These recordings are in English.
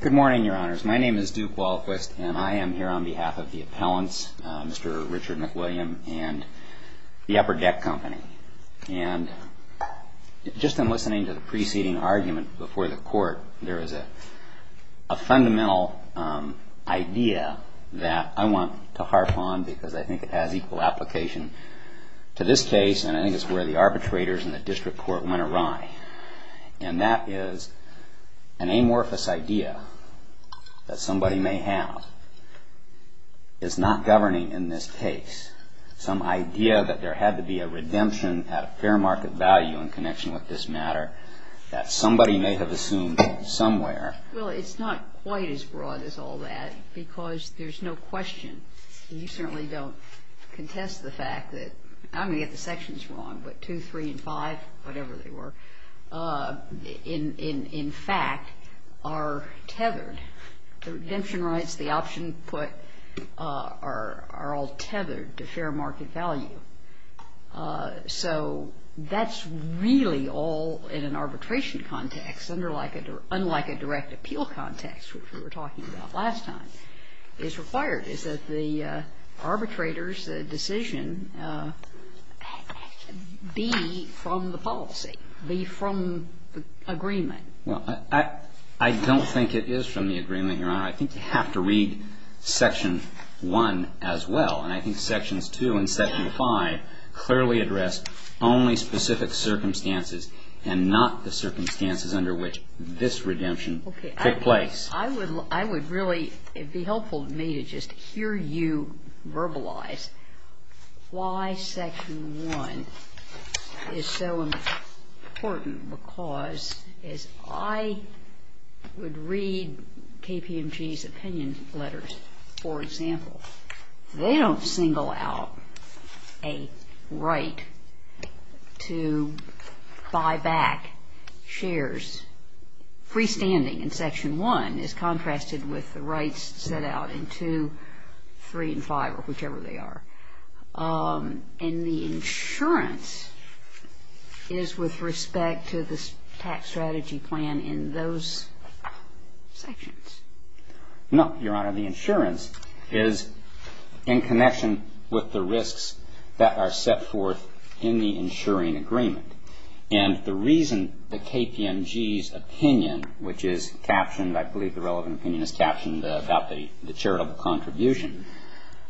Good morning, Your Honors. My name is Duke Walquist, and I am here on behalf of the appellants, Mr. Richard McWilliam, and the Upper Deck Company. And just in listening to the preceding argument before the Court, there is a fundamental idea that I want to harp on, because I think it has equal application to this case, and I think it's where the arbitrators in the District Court went awry. And that is, an amorphous idea that somebody may have is not governing in this case some idea that there had to be a redemption at a fair market value in connection with this matter that somebody may have assumed somewhere. Well, it's not quite as broad as all that, because there's no question. And you certainly don't contest the fact that, I'm going to get the sections wrong, but 2, 3, and 5, whatever they were, in fact, are tethered. The redemption rights, the option put, are all tethered to fair market value. So that's really all in an arbitration context, unlike a direct appeal context, which we were talking about last time, is required, is that the arbitrator's decision be from the policy, be from the agreement. Well, I don't think it is from the agreement, Your Honor. I think you have to read Section 1 as well. And I think Sections 2 and Section 5 clearly address only specific circumstances and not the circumstances under which this redemption took place. I would really be helpful to me to just hear you verbalize why Section 1 is so important, because as I would read KPMG's opinion letters, for example, they don't single out a right to buy back shares. Freestanding in Section 1 is contrasted with the rights set out in 2, 3, and 5, or whichever they are. And the insurance is with respect to the tax strategy plan in those sections. No, Your Honor, the insurance is in connection with the risks that are set forth in the insuring agreement. And the reason the KPMG's opinion, which is captioned, I believe the relevant opinion is captioned, about the charitable contribution,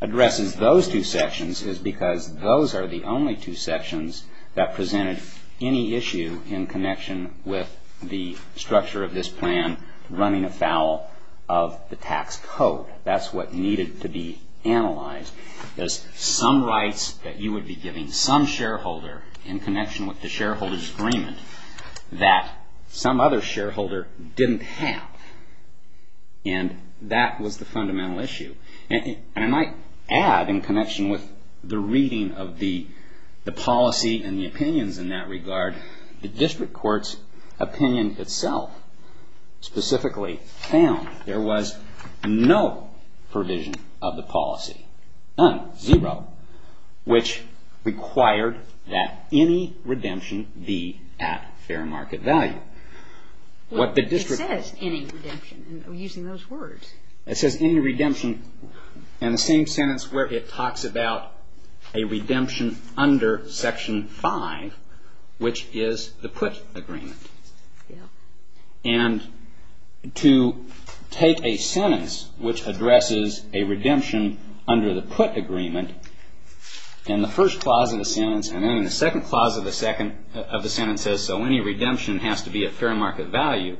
addresses those two sections is because those are the only two sections that presented any issue in connection with the structure of this plan running afoul of the tax code. That's what needed to be analyzed. There's some rights that you would be giving some shareholder in connection with the shareholder's agreement that some other shareholder didn't have. And that was the fundamental issue. And I might add, in connection with the reading of the policy and the opinions in that regard, the district court's opinion itself specifically found there was no provision of the policy. None. Zero. Which required that any redemption be at fair market value. It says any redemption. I'm using those words. It says any redemption in the same sentence where it talks about a redemption under Section 5, which is the PUT agreement. And to take a sentence which addresses a redemption under the PUT agreement in the first clause of the sentence and then in the second clause of the sentence and says so any redemption has to be at fair market value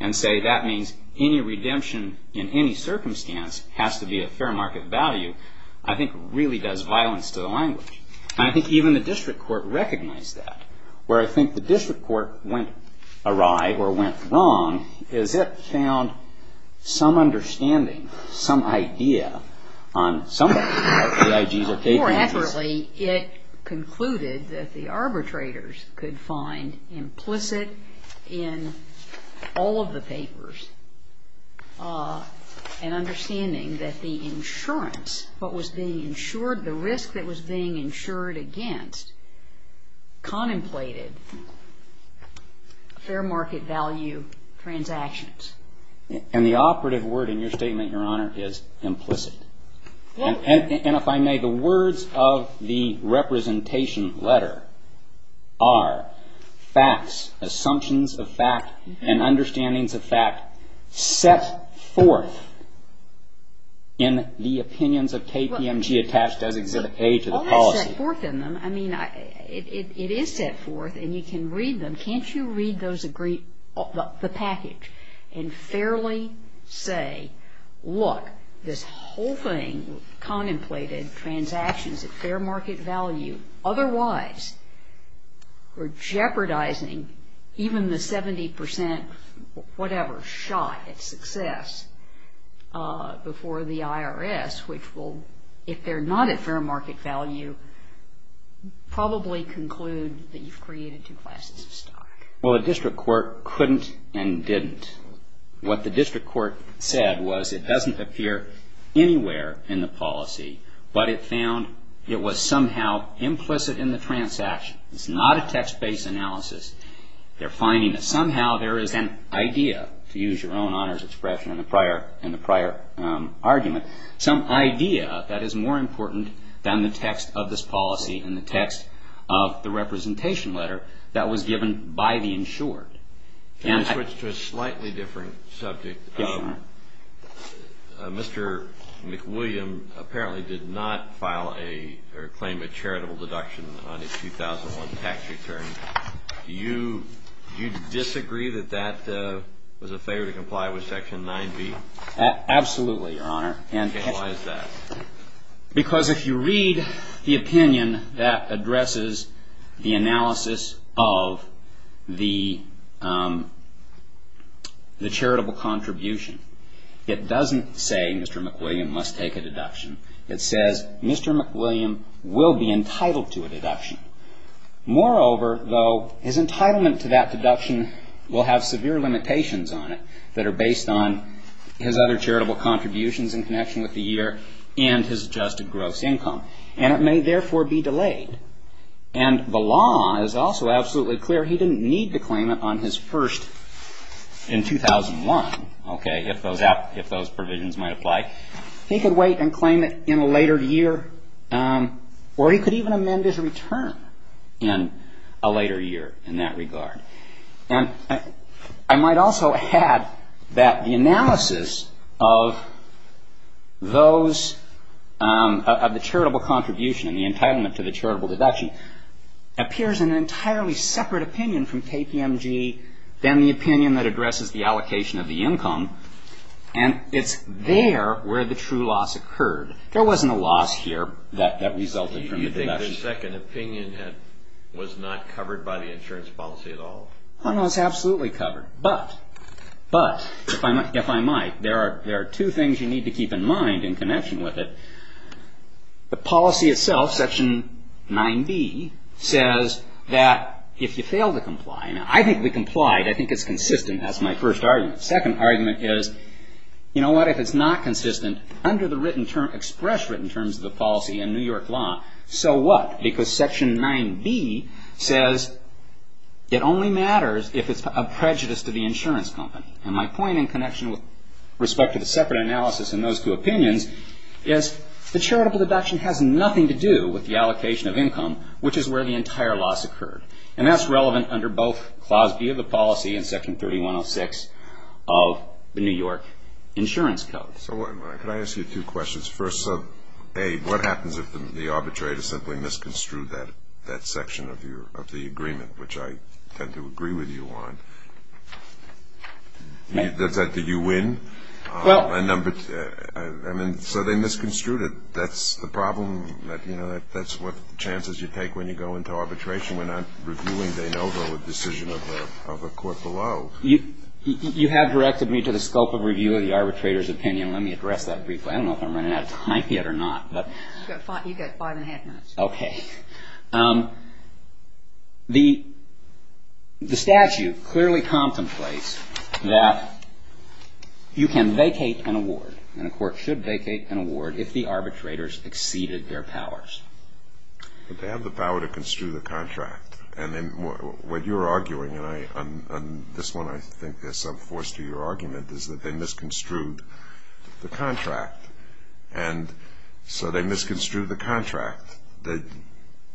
and say that means any redemption in any circumstance has to be at fair market value, I think really does violence to the language. And I think even the district court recognized that. Where I think the district court went awry or went wrong is it found some understanding, some idea on some of it. More accurately, it concluded that the arbitrators could find implicit in all of the papers an understanding that the insurance, what was being insured, the risk that was being insured against contemplated fair market value transactions. And the operative word in your statement, Your Honor, is implicit. And if I may, the words of the representation letter are facts, assumptions of fact, and understandings of fact set forth in the opinions of KPMG attached as Exhibit A to the policy. Well, it's not set forth in them. I mean, it is set forth and you can read them. Can't you read the package and fairly say, look, this whole thing, contemplated transactions at fair market value, otherwise we're jeopardizing even the 70% whatever shot at success before the IRS, which will, if they're not at fair market value, probably conclude that you've created two classes of stock. Well, the district court couldn't and didn't. What the district court said was it doesn't appear anywhere in the policy, but it found it was somehow implicit in the transaction. It's not a text-based analysis. They're finding that somehow there is an idea, to use your own honors expression in the prior argument, some idea that is more important than the text of this policy and the text of the representation letter that was given by the insured. Can I switch to a slightly different subject? Yes, Your Honor. Mr. McWilliam apparently did not file or claim a charitable deduction on his 2001 tax return. Do you disagree that that was a failure to comply with Section 9B? Absolutely, Your Honor. Why is that? Because if you read the opinion that addresses the analysis of the charitable contribution, it doesn't say Mr. McWilliam must take a deduction. It says Mr. McWilliam will be entitled to a deduction. Moreover, though, his entitlement to that deduction will have severe limitations on it that are based on his other charitable contributions in connection with the year and his adjusted gross income, and it may therefore be delayed. And the law is also absolutely clear. He didn't need to claim it on his first in 2001, okay, if those provisions might apply. He could wait and claim it in a later year, or he could even amend his return in a later year in that regard. And I might also add that the analysis of those of the charitable contribution and the entitlement to the charitable deduction appears an entirely separate opinion from KPMG than the opinion that addresses the allocation of the income, and it's there where the true loss occurred. There wasn't a loss here that resulted from the deduction. I think the second opinion was not covered by the insurance policy at all. No, it's absolutely covered, but if I might, there are two things you need to keep in mind in connection with it. The policy itself, Section 9b, says that if you fail to comply, and I think we complied. I think it's consistent. That's my first argument. The second argument is, you know what, if it's not consistent, express written terms of the policy in New York law, so what? Because Section 9b says it only matters if it's a prejudice to the insurance company. And my point in connection with respect to the separate analysis in those two opinions is the charitable deduction has nothing to do with the allocation of income, which is where the entire loss occurred. And that's relevant under both Clause B of the policy and Section 3106 of the New York Insurance Code. So could I ask you two questions? First, A, what happens if the arbitrator simply misconstrued that section of the agreement, which I tend to agree with you on? Does that mean you win? I mean, so they misconstrued it. That's the problem. You know, that's what chances you take when you go into arbitration. We're not reviewing De Novo, a decision of a court below. You have directed me to the scope of review of the arbitrator's opinion. Let me address that briefly. I don't know if I'm running out of time yet or not. You've got five and a half minutes. Okay. The statute clearly contemplates that you can vacate an award, and a court should vacate an award, if the arbitrators exceeded their powers. But they have the power to construe the contract. And then what you're arguing, and on this one I think there's some force to your argument, is that they misconstrued the contract. And so they misconstrued the contract.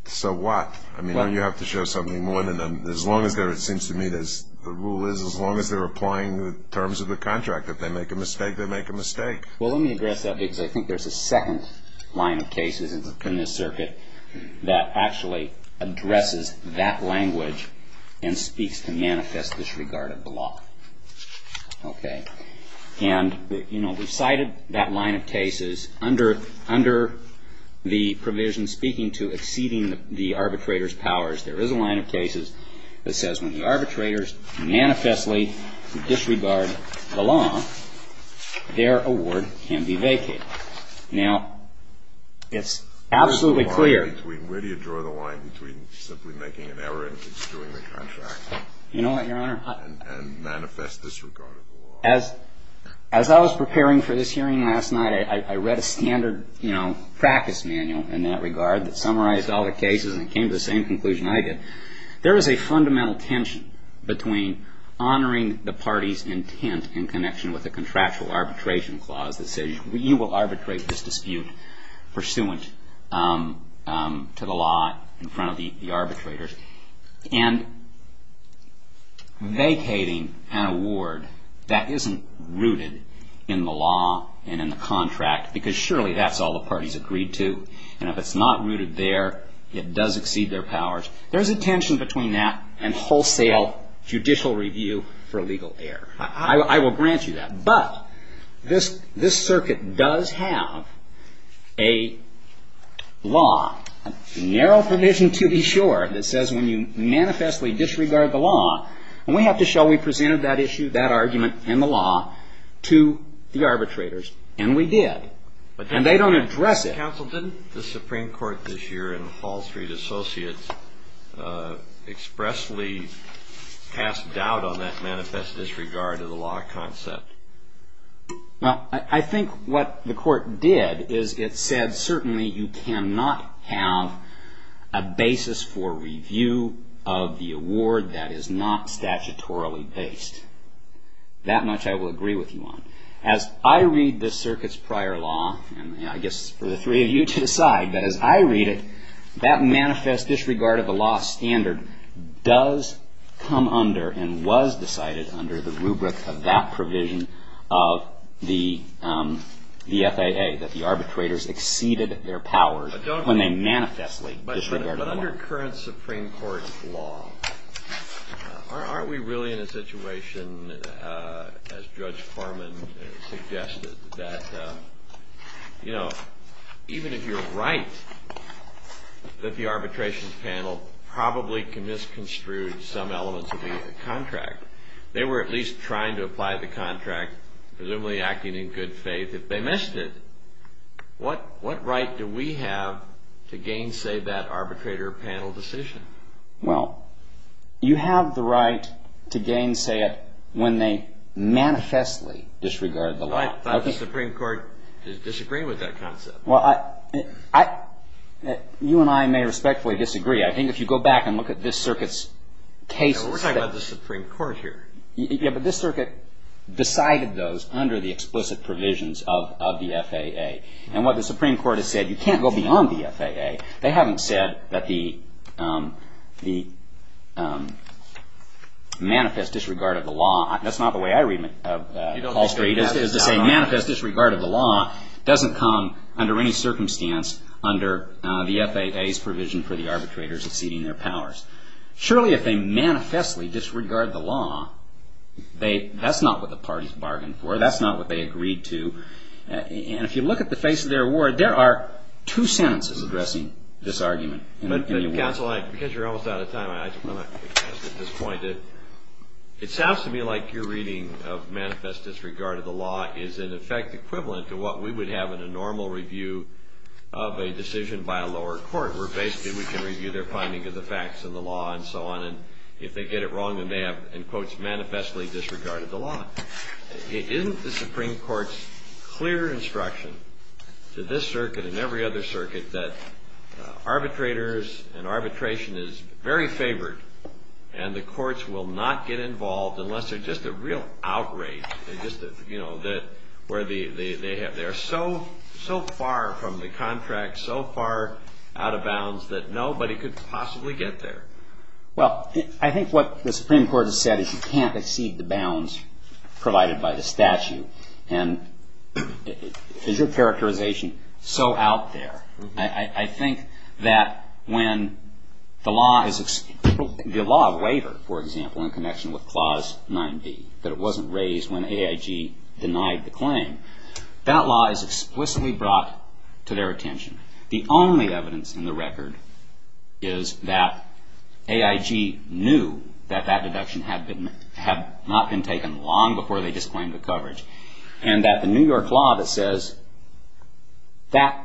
So what? I mean, don't you have to show something more than that? As long as they're, it seems to me, the rule is as long as they're applying the terms of the contract. If they make a mistake, they make a mistake. Well, let me address that because I think there's a second line of cases in this circuit that actually addresses that language and speaks to manifest disregard of the law. Okay. And, you know, we've cited that line of cases. Under the provision speaking to exceeding the arbitrator's powers, there is a line of cases that says when the arbitrators manifestly disregard the law, their award can be vacated. Now, it's absolutely clear. Where do you draw the line between simply making an error and construing the contract? You know what, Your Honor? And manifest disregard of the law. As I was preparing for this hearing last night, I read a standard practice manual in that regard that summarized all the cases and came to the same conclusion I did. There is a fundamental tension between honoring the party's intent in connection with a contractual arbitration clause that says you will arbitrate this dispute pursuant to the law in front of the arbitrators and vacating an award that isn't rooted in the law and in the contract because surely that's all the party's agreed to. And if it's not rooted there, it does exceed their powers. There's a tension between that and wholesale judicial review for legal error. I will grant you that. But this circuit does have a law, a narrow provision to be sure, that says when you manifestly disregard the law, we have to show we presented that issue, that argument, and the law to the arbitrators. And we did. And they don't address it. Counsel, didn't the Supreme Court this year in Wall Street Associates expressly pass doubt on that manifest disregard of the law concept? Well, I think what the court did is it said certainly you cannot have a basis for review of the award that is not statutorily based. That much I will agree with you on. As I read this circuit's prior law, and I guess for the three of you to decide, but as I read it, that manifest disregard of the law standard does come under and was decided under the rubric of that provision of the FAA, that the arbitrators exceeded their powers when they manifestly disregarded the law. But under current Supreme Court law, aren't we really in a situation, as Judge Foreman suggested, that even if you're right that the arbitration panel probably misconstrued some elements of the contract, they were at least trying to apply the contract, presumably acting in good faith, if they missed it, what right do we have to gainsay that arbitrator panel decision? Well, you have the right to gainsay it when they manifestly disregard the law. I thought the Supreme Court disagreed with that concept. Well, you and I may respectfully disagree. I think if you go back and look at this circuit's cases that We're talking about the Supreme Court here. Yeah, but this circuit decided those under the explicit provisions of the FAA. And what the Supreme Court has said, you can't go beyond the FAA. They haven't said that the manifest disregard of the law. That's not the way I read it. It's to say manifest disregard of the law doesn't come under any circumstance under the FAA's provision for the arbitrators exceeding their powers. Surely if they manifestly disregard the law, that's not what the parties bargained for. That's not what they agreed to. And if you look at the face of their award, there are two sentences addressing this argument. But, counsel, because you're almost out of time, I just want to make this point. It sounds to me like your reading of manifest disregard of the law is, in effect, equivalent to what we would have in a normal review of a decision by a lower court where basically we can review their finding of the facts of the law and so on. And if they get it wrong, then they have, in quotes, manifestly disregarded the law. Isn't the Supreme Court's clear instruction to this circuit and every other circuit that arbitrators and arbitration is very favored and the courts will not get involved unless there's just a real outrage where they are so far from the contract, so far out of bounds that nobody could possibly get there? Well, I think what the Supreme Court has said is you can't exceed the bounds provided by the statute. And is your characterization so out there? I think that when the law of waiver, for example, in connection with Clause 9b, that it wasn't raised when AIG denied the claim, that law is explicitly brought to their attention. The only evidence in the record is that AIG knew that that deduction had not been taken long before they disclaimed the coverage. And that the New York law that says that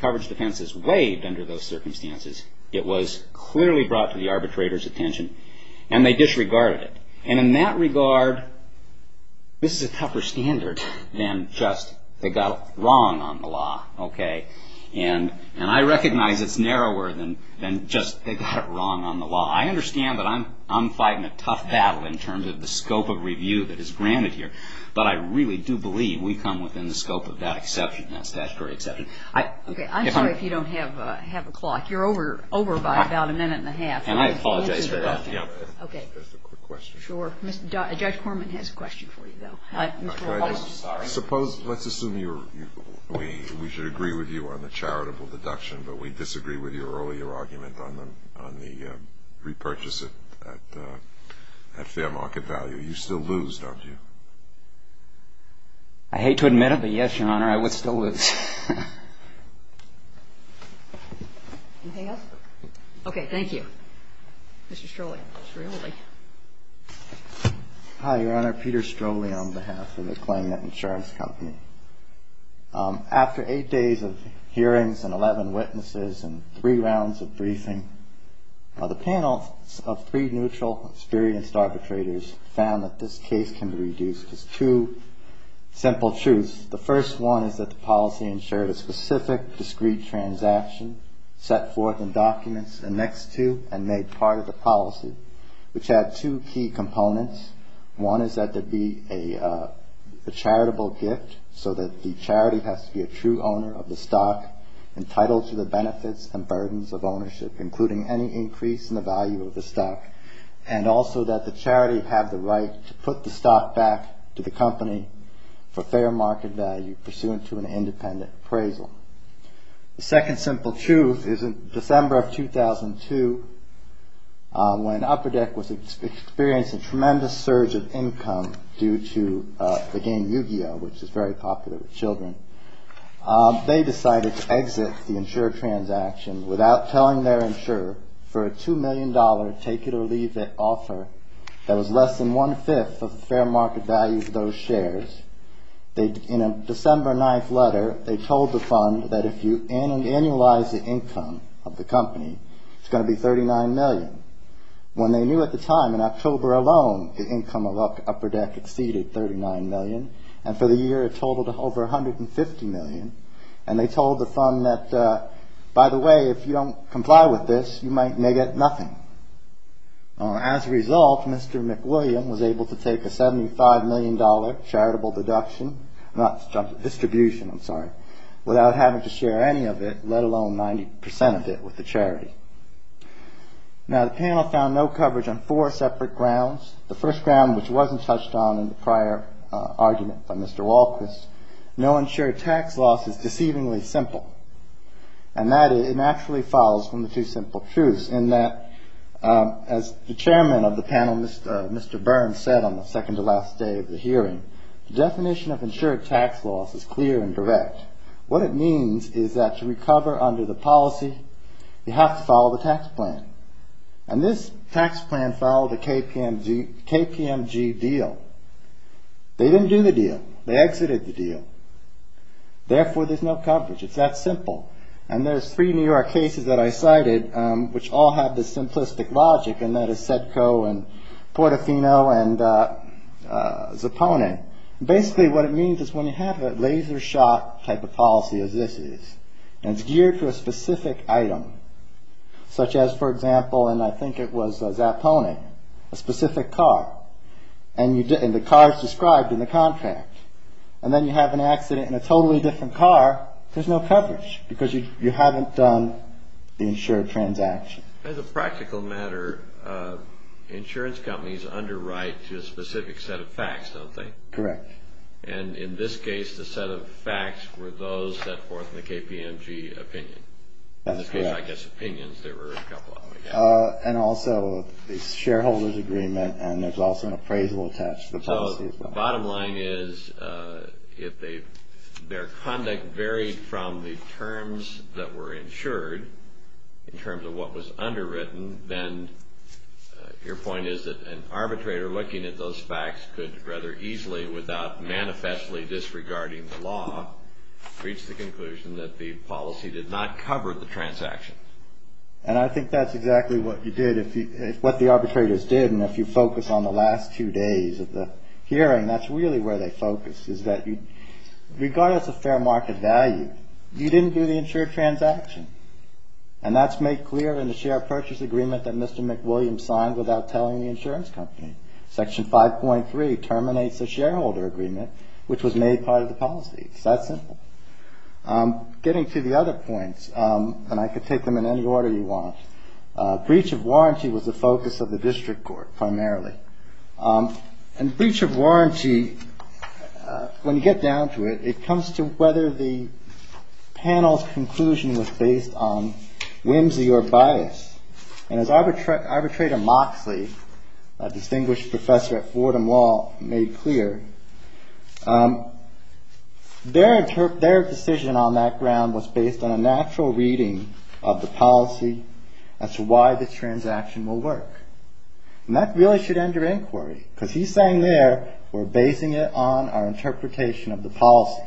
coverage defense is waived under those circumstances, it was clearly brought to the arbitrator's attention and they disregarded it. And in that regard, this is a tougher standard than just they got it wrong on the law. Okay. And I recognize it's narrower than just they got it wrong on the law. I understand that I'm fighting a tough battle in terms of the scope of review that is granted here, but I really do believe we come within the scope of that exception, that statutory exception. Okay. I'm sorry if you don't have a clock. You're over by about a minute and a half. And I apologize for that. Okay. Just a quick question. Sure. Judge Corman has a question for you, though. Suppose, let's assume we should agree with you on the charitable deduction, but we disagree with your earlier argument on the repurchase at fair market value. You still lose, don't you? I hate to admit it, but, yes, Your Honor, I would still lose. Anything else? Okay. Mr. Strohle. Hi, Your Honor. I'm Peter Strohle on behalf of the Claimant Insurance Company. After eight days of hearings and 11 witnesses and three rounds of briefing, the panel of three neutral, experienced arbitrators found that this case can be reduced to two simple truths. The first one is that the policy ensured a specific, discrete transaction set forth in documents, annexed to and made part of the policy, which had two key components. One is that there be a charitable gift so that the charity has to be a true owner of the stock, entitled to the benefits and burdens of ownership, including any increase in the value of the stock, and also that the charity have the right to put the stock back to the company for fair market value, pursuant to an independent appraisal. The second simple truth is that in December of 2002, when Upper Deck was experiencing a tremendous surge of income due to the game Yu-Gi-Oh!, which is very popular with children, they decided to exit the insured transaction without telling their insurer for a $2 million take it or leave it offer that was less than one-fifth of the fair market value of those shares. In a December 9th letter, they told the fund that if you annualize the income of the company, it's going to be $39 million. When they knew at the time, in October alone, the income of Upper Deck exceeded $39 million, and for the year it totaled over $150 million, and they told the fund that, by the way, if you don't comply with this, you may get nothing. As a result, Mr. McWilliam was able to take a $75 million charitable deduction, not distribution, I'm sorry, without having to share any of it, let alone 90% of it with the charity. Now, the panel found no coverage on four separate grounds. The first ground, which wasn't touched on in the prior argument by Mr. Walquist, And that it naturally follows from the two simple truths in that, as the chairman of the panel, Mr. Burns, said on the second-to-last day of the hearing, the definition of insured tax loss is clear and direct. What it means is that to recover under the policy, you have to follow the tax plan. And this tax plan followed a KPMG deal. They didn't do the deal. They exited the deal. Therefore, there's no coverage. It's that simple. And there's three New York cases that I cited, which all have this simplistic logic, and that is Sedco and Portofino and Zappone. Basically, what it means is when you have a laser-shot type of policy as this is, and it's geared to a specific item, such as, for example, and I think it was Zappone, a specific car, and the car is described in the contract. And then you have an accident in a totally different car. There's no coverage because you haven't done the insured transaction. As a practical matter, insurance companies underwrite to a specific set of facts, don't they? Correct. And in this case, the set of facts were those set forth in the KPMG opinion. That's correct. In this case, I guess, opinions. There were a couple of them, I guess. And also a shareholder's agreement, and there's also an appraisal attached to the policy. The bottom line is if their conduct varied from the terms that were insured, in terms of what was underwritten, then your point is that an arbitrator looking at those facts could rather easily, without manifestly disregarding the law, reach the conclusion that the policy did not cover the transaction. And I think that's exactly what you did, what the arbitrators did. And if you focus on the last two days of the hearing, that's really where they focused, is that regardless of fair market value, you didn't do the insured transaction. And that's made clear in the share purchase agreement that Mr. McWilliams signed without telling the insurance company. Section 5.3 terminates the shareholder agreement, which was made part of the policy. It's that simple. Getting to the other points, and I could take them in any order you want, breach of warranty was the focus of the district court, primarily. And breach of warranty, when you get down to it, it comes to whether the panel's conclusion was based on whimsy or bias. And as arbitrator Moxley, a distinguished professor at Fordham Law, made clear, their decision on that ground was based on a natural reading of the policy as to why the transaction will work. And that really should end your inquiry, because he's saying there, we're basing it on our interpretation of the policy.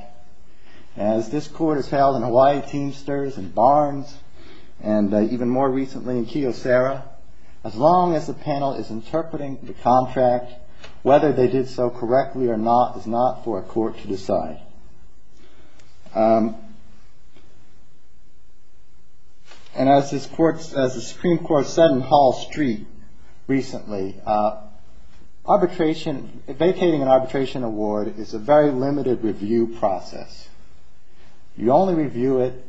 As this court has held in Hawaii Teamsters and Barnes, and even more recently in Keosara, as long as the panel is interpreting the contract, whether they did so correctly or not is not for a court to decide. And as the Supreme Court said in Hall Street recently, vacating an arbitration award is a very limited review process. You only review it,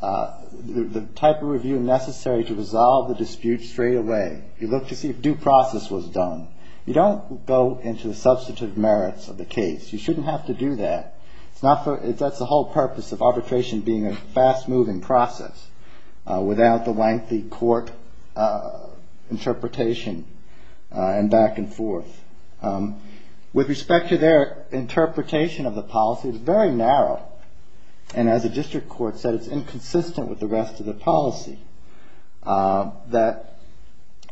the type of review necessary to resolve the dispute straightaway. You look to see if due process was done. You don't go into the substitute merits of the case. You shouldn't have to do that. That's the whole purpose of arbitration being a fast-moving process, without the lengthy court interpretation and back and forth. With respect to their interpretation of the policy, it's very narrow. And as the district court said, it's inconsistent with the rest of the policy. That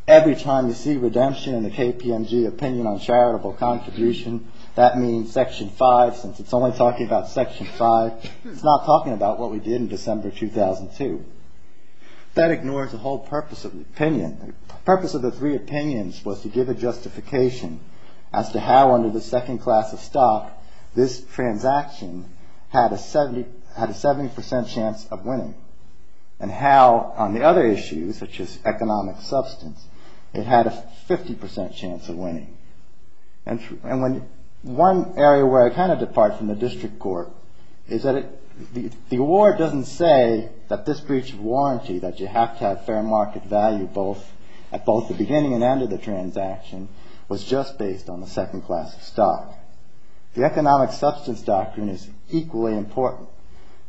every time you see redemption in the KPMG opinion on charitable contribution, that means Section 5, since it's only talking about Section 5. It's not talking about what we did in December 2002. That ignores the whole purpose of the opinion. The purpose of the three opinions was to give a justification as to how under the second class of stock this transaction had a 70% chance of winning and how on the other issues, such as economic substance, it had a 50% chance of winning. And one area where I kind of depart from the district court is that the award doesn't say that this breach of warranty, that you have to have fair market value at both the beginning and end of the transaction, was just based on the second class of stock. The economic substance doctrine is equally important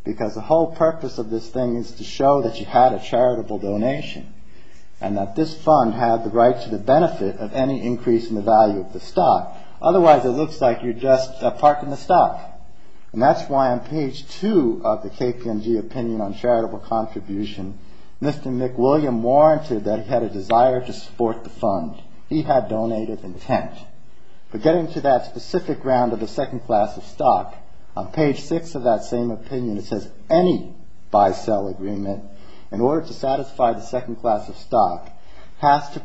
because the whole purpose of this thing is to show that you had a charitable donation and that this fund had the right to the benefit of any increase in the value of the stock. Otherwise, it looks like you're just parking the stock. And that's why on page 2 of the KPMG opinion on charitable contribution, Mr. McWilliam warranted that he had a desire to support the fund. He had donated intent. But getting to that specific round of the second class of stock, on page 6 of that same opinion, it says any buy-sell agreement in order to satisfy the second class of stock has to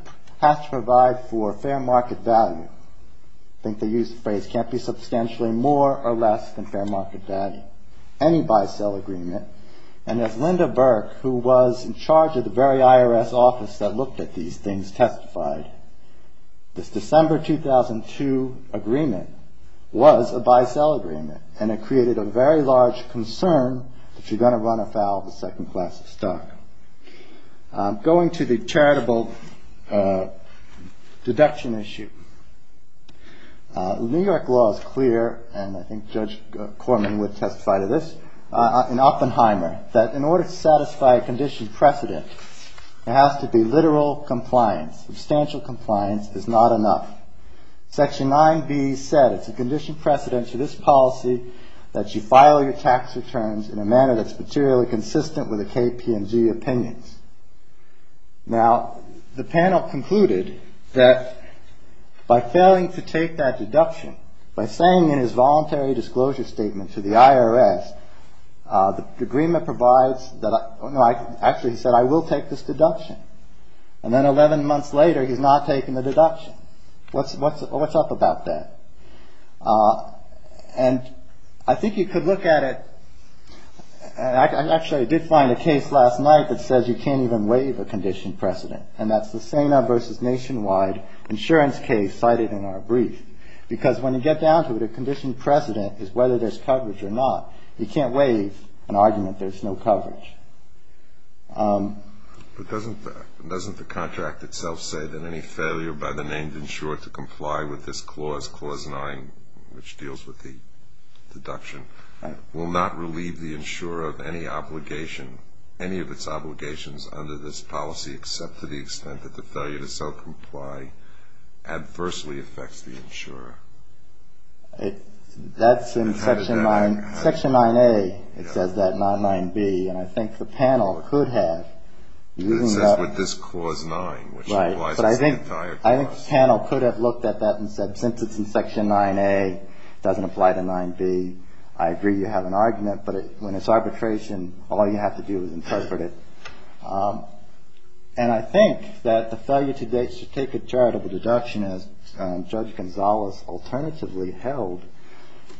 provide for fair market value. I think they used the phrase can't be substantially more or less than fair market value. Any buy-sell agreement. And as Linda Burke, who was in charge of the very IRS office that looked at these things, testified, this December 2002 agreement was a buy-sell agreement. And it created a very large concern that you're going to run afoul of the second class of stock. Going to the charitable deduction issue, New York law is clear, and I think Judge Corman would testify to this, in Oppenheimer, that in order to satisfy a condition precedent, it has to be literal compliance. Substantial compliance is not enough. Section 9B said it's a condition precedent to this policy that you file your tax returns in a manner that's materially consistent with the KPMG opinions. Now, the panel concluded that by failing to take that deduction, by saying in his voluntary disclosure statement to the IRS, the agreement provides that I actually said I will take this deduction. And then 11 months later, he's not taking the deduction. What's up about that? And I think you could look at it. And I actually did find a case last night that says you can't even waive a condition precedent. And that's the SANA versus Nationwide insurance case cited in our brief. Because when you get down to it, a condition precedent is whether there's coverage or not. You can't waive an argument there's no coverage. But doesn't the contract itself say that any failure by the named insurer to comply with this clause, clause 9, which deals with the deduction, will not relieve the insurer of any obligation, any of its obligations under this policy, except to the extent that the failure to self-comply adversely affects the insurer? That's in Section 9A. It says that, not 9B. And I think the panel could have. It says with this clause 9, which implies it's the entire clause. I think the panel could have looked at that and said since it's in Section 9A, it doesn't apply to 9B. I agree you have an argument. But when it's arbitration, all you have to do is interpret it. And I think that the failure to take a charitable deduction, as Judge Gonzalez alternatively held,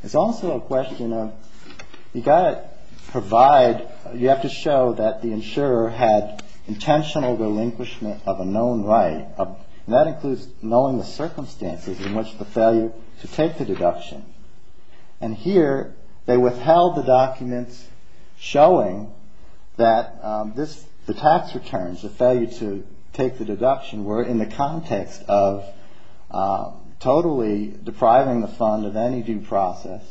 is also a question of you've got to provide, you have to show that the insurer had intentional relinquishment of a known right. And that includes knowing the circumstances in which the failure to take the deduction. And here they withheld the documents showing that the tax returns, the failure to take the deduction, were in the context of totally depriving the fund of any due process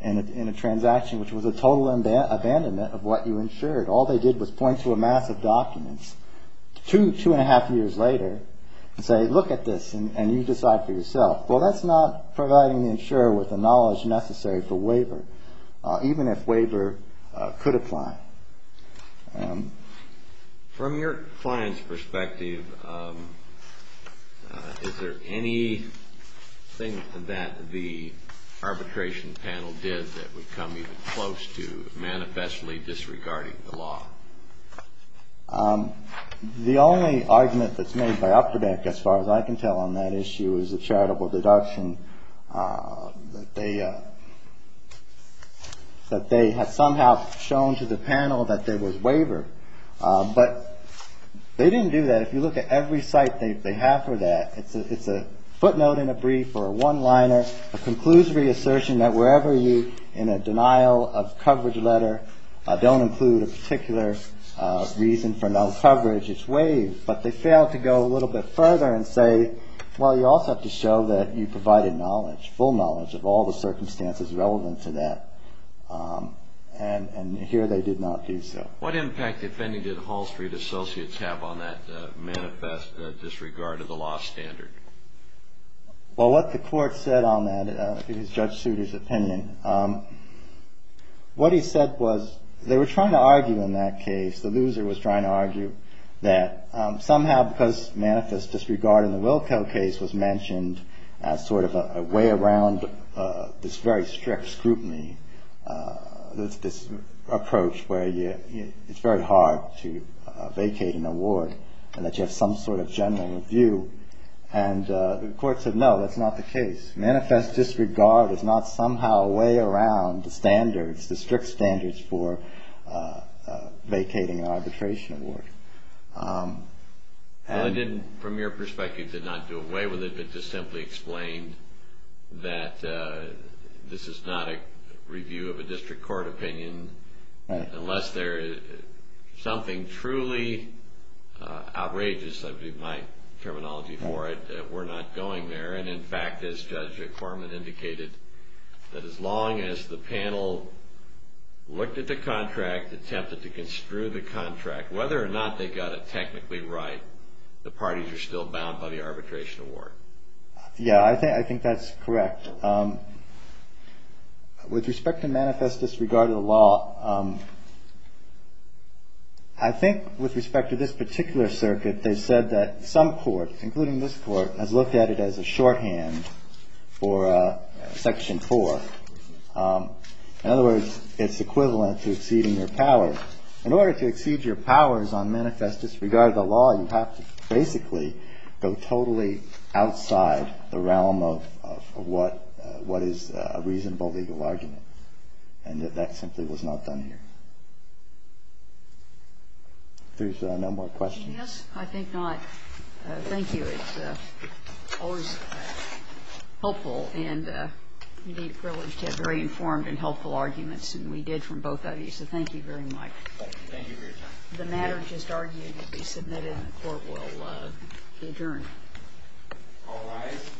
in a transaction, which was a total abandonment of what you insured. All they did was point to a mass of documents two, two and a half years later and say, look at this, and you decide for yourself. Well, that's not providing the insurer with the knowledge necessary for waiver, even if waiver could apply. From your client's perspective, is there anything that the arbitration panel did that would come even close to manifestly disregarding the law? The only argument that's made by Upterbeck, as far as I can tell on that issue, is a charitable deduction that they have somehow shown to the panel that there was waiver. But they didn't do that. If you look at every site they have for that, it's a footnote in a brief or a one liner, a conclusory assertion that wherever you, in a denial of coverage letter, don't include a particular reason for no coverage, it's waived. But they failed to go a little bit further and say, well, you also have to show that you provided knowledge, full knowledge of all the circumstances relevant to that. And here they did not do so. What impact, if any, did Hall Street Associates have on that manifest disregard of the law standard? Well, what the court said on that, in Judge Souter's opinion, what he said was they were trying to argue in that case, the loser was trying to argue that somehow because manifest disregard in the Wilco case was mentioned as sort of a way around this very strict scrutiny, this approach where it's very hard to vacate an award and that you have some sort of general review. And the court said, no, that's not the case. Manifest disregard is not somehow a way around the standards, the strict standards for vacating an arbitration award. Well, it didn't, from your perspective, it did not do away with it, but just simply explained that this is not a review of a district court opinion unless there is something truly outrageous, I believe my terminology for it, that we're not going there. And in fact, as Judge Corman indicated, that as long as the panel looked at the contract, attempted to construe the contract, whether or not they got it technically right, the parties are still bound by the arbitration award. Yeah, I think that's correct. With respect to manifest disregard of the law, I think with respect to this particular circuit, they said that some court, including this court, has looked at it as a shorthand for Section 4. In other words, it's equivalent to exceeding your power. In order to exceed your powers on manifest disregard of the law, you have to basically go totally outside the realm of what is a reasonable legal argument, and that that simply was not done here. There's no more questions? Yes, I think not. Thank you. It's always helpful and, indeed, a privilege to have very informed and helpful arguments, and we did from both of you, so thank you very much. Thank you for your time. The matter just argued to be submitted and the court will adjourn. All rise.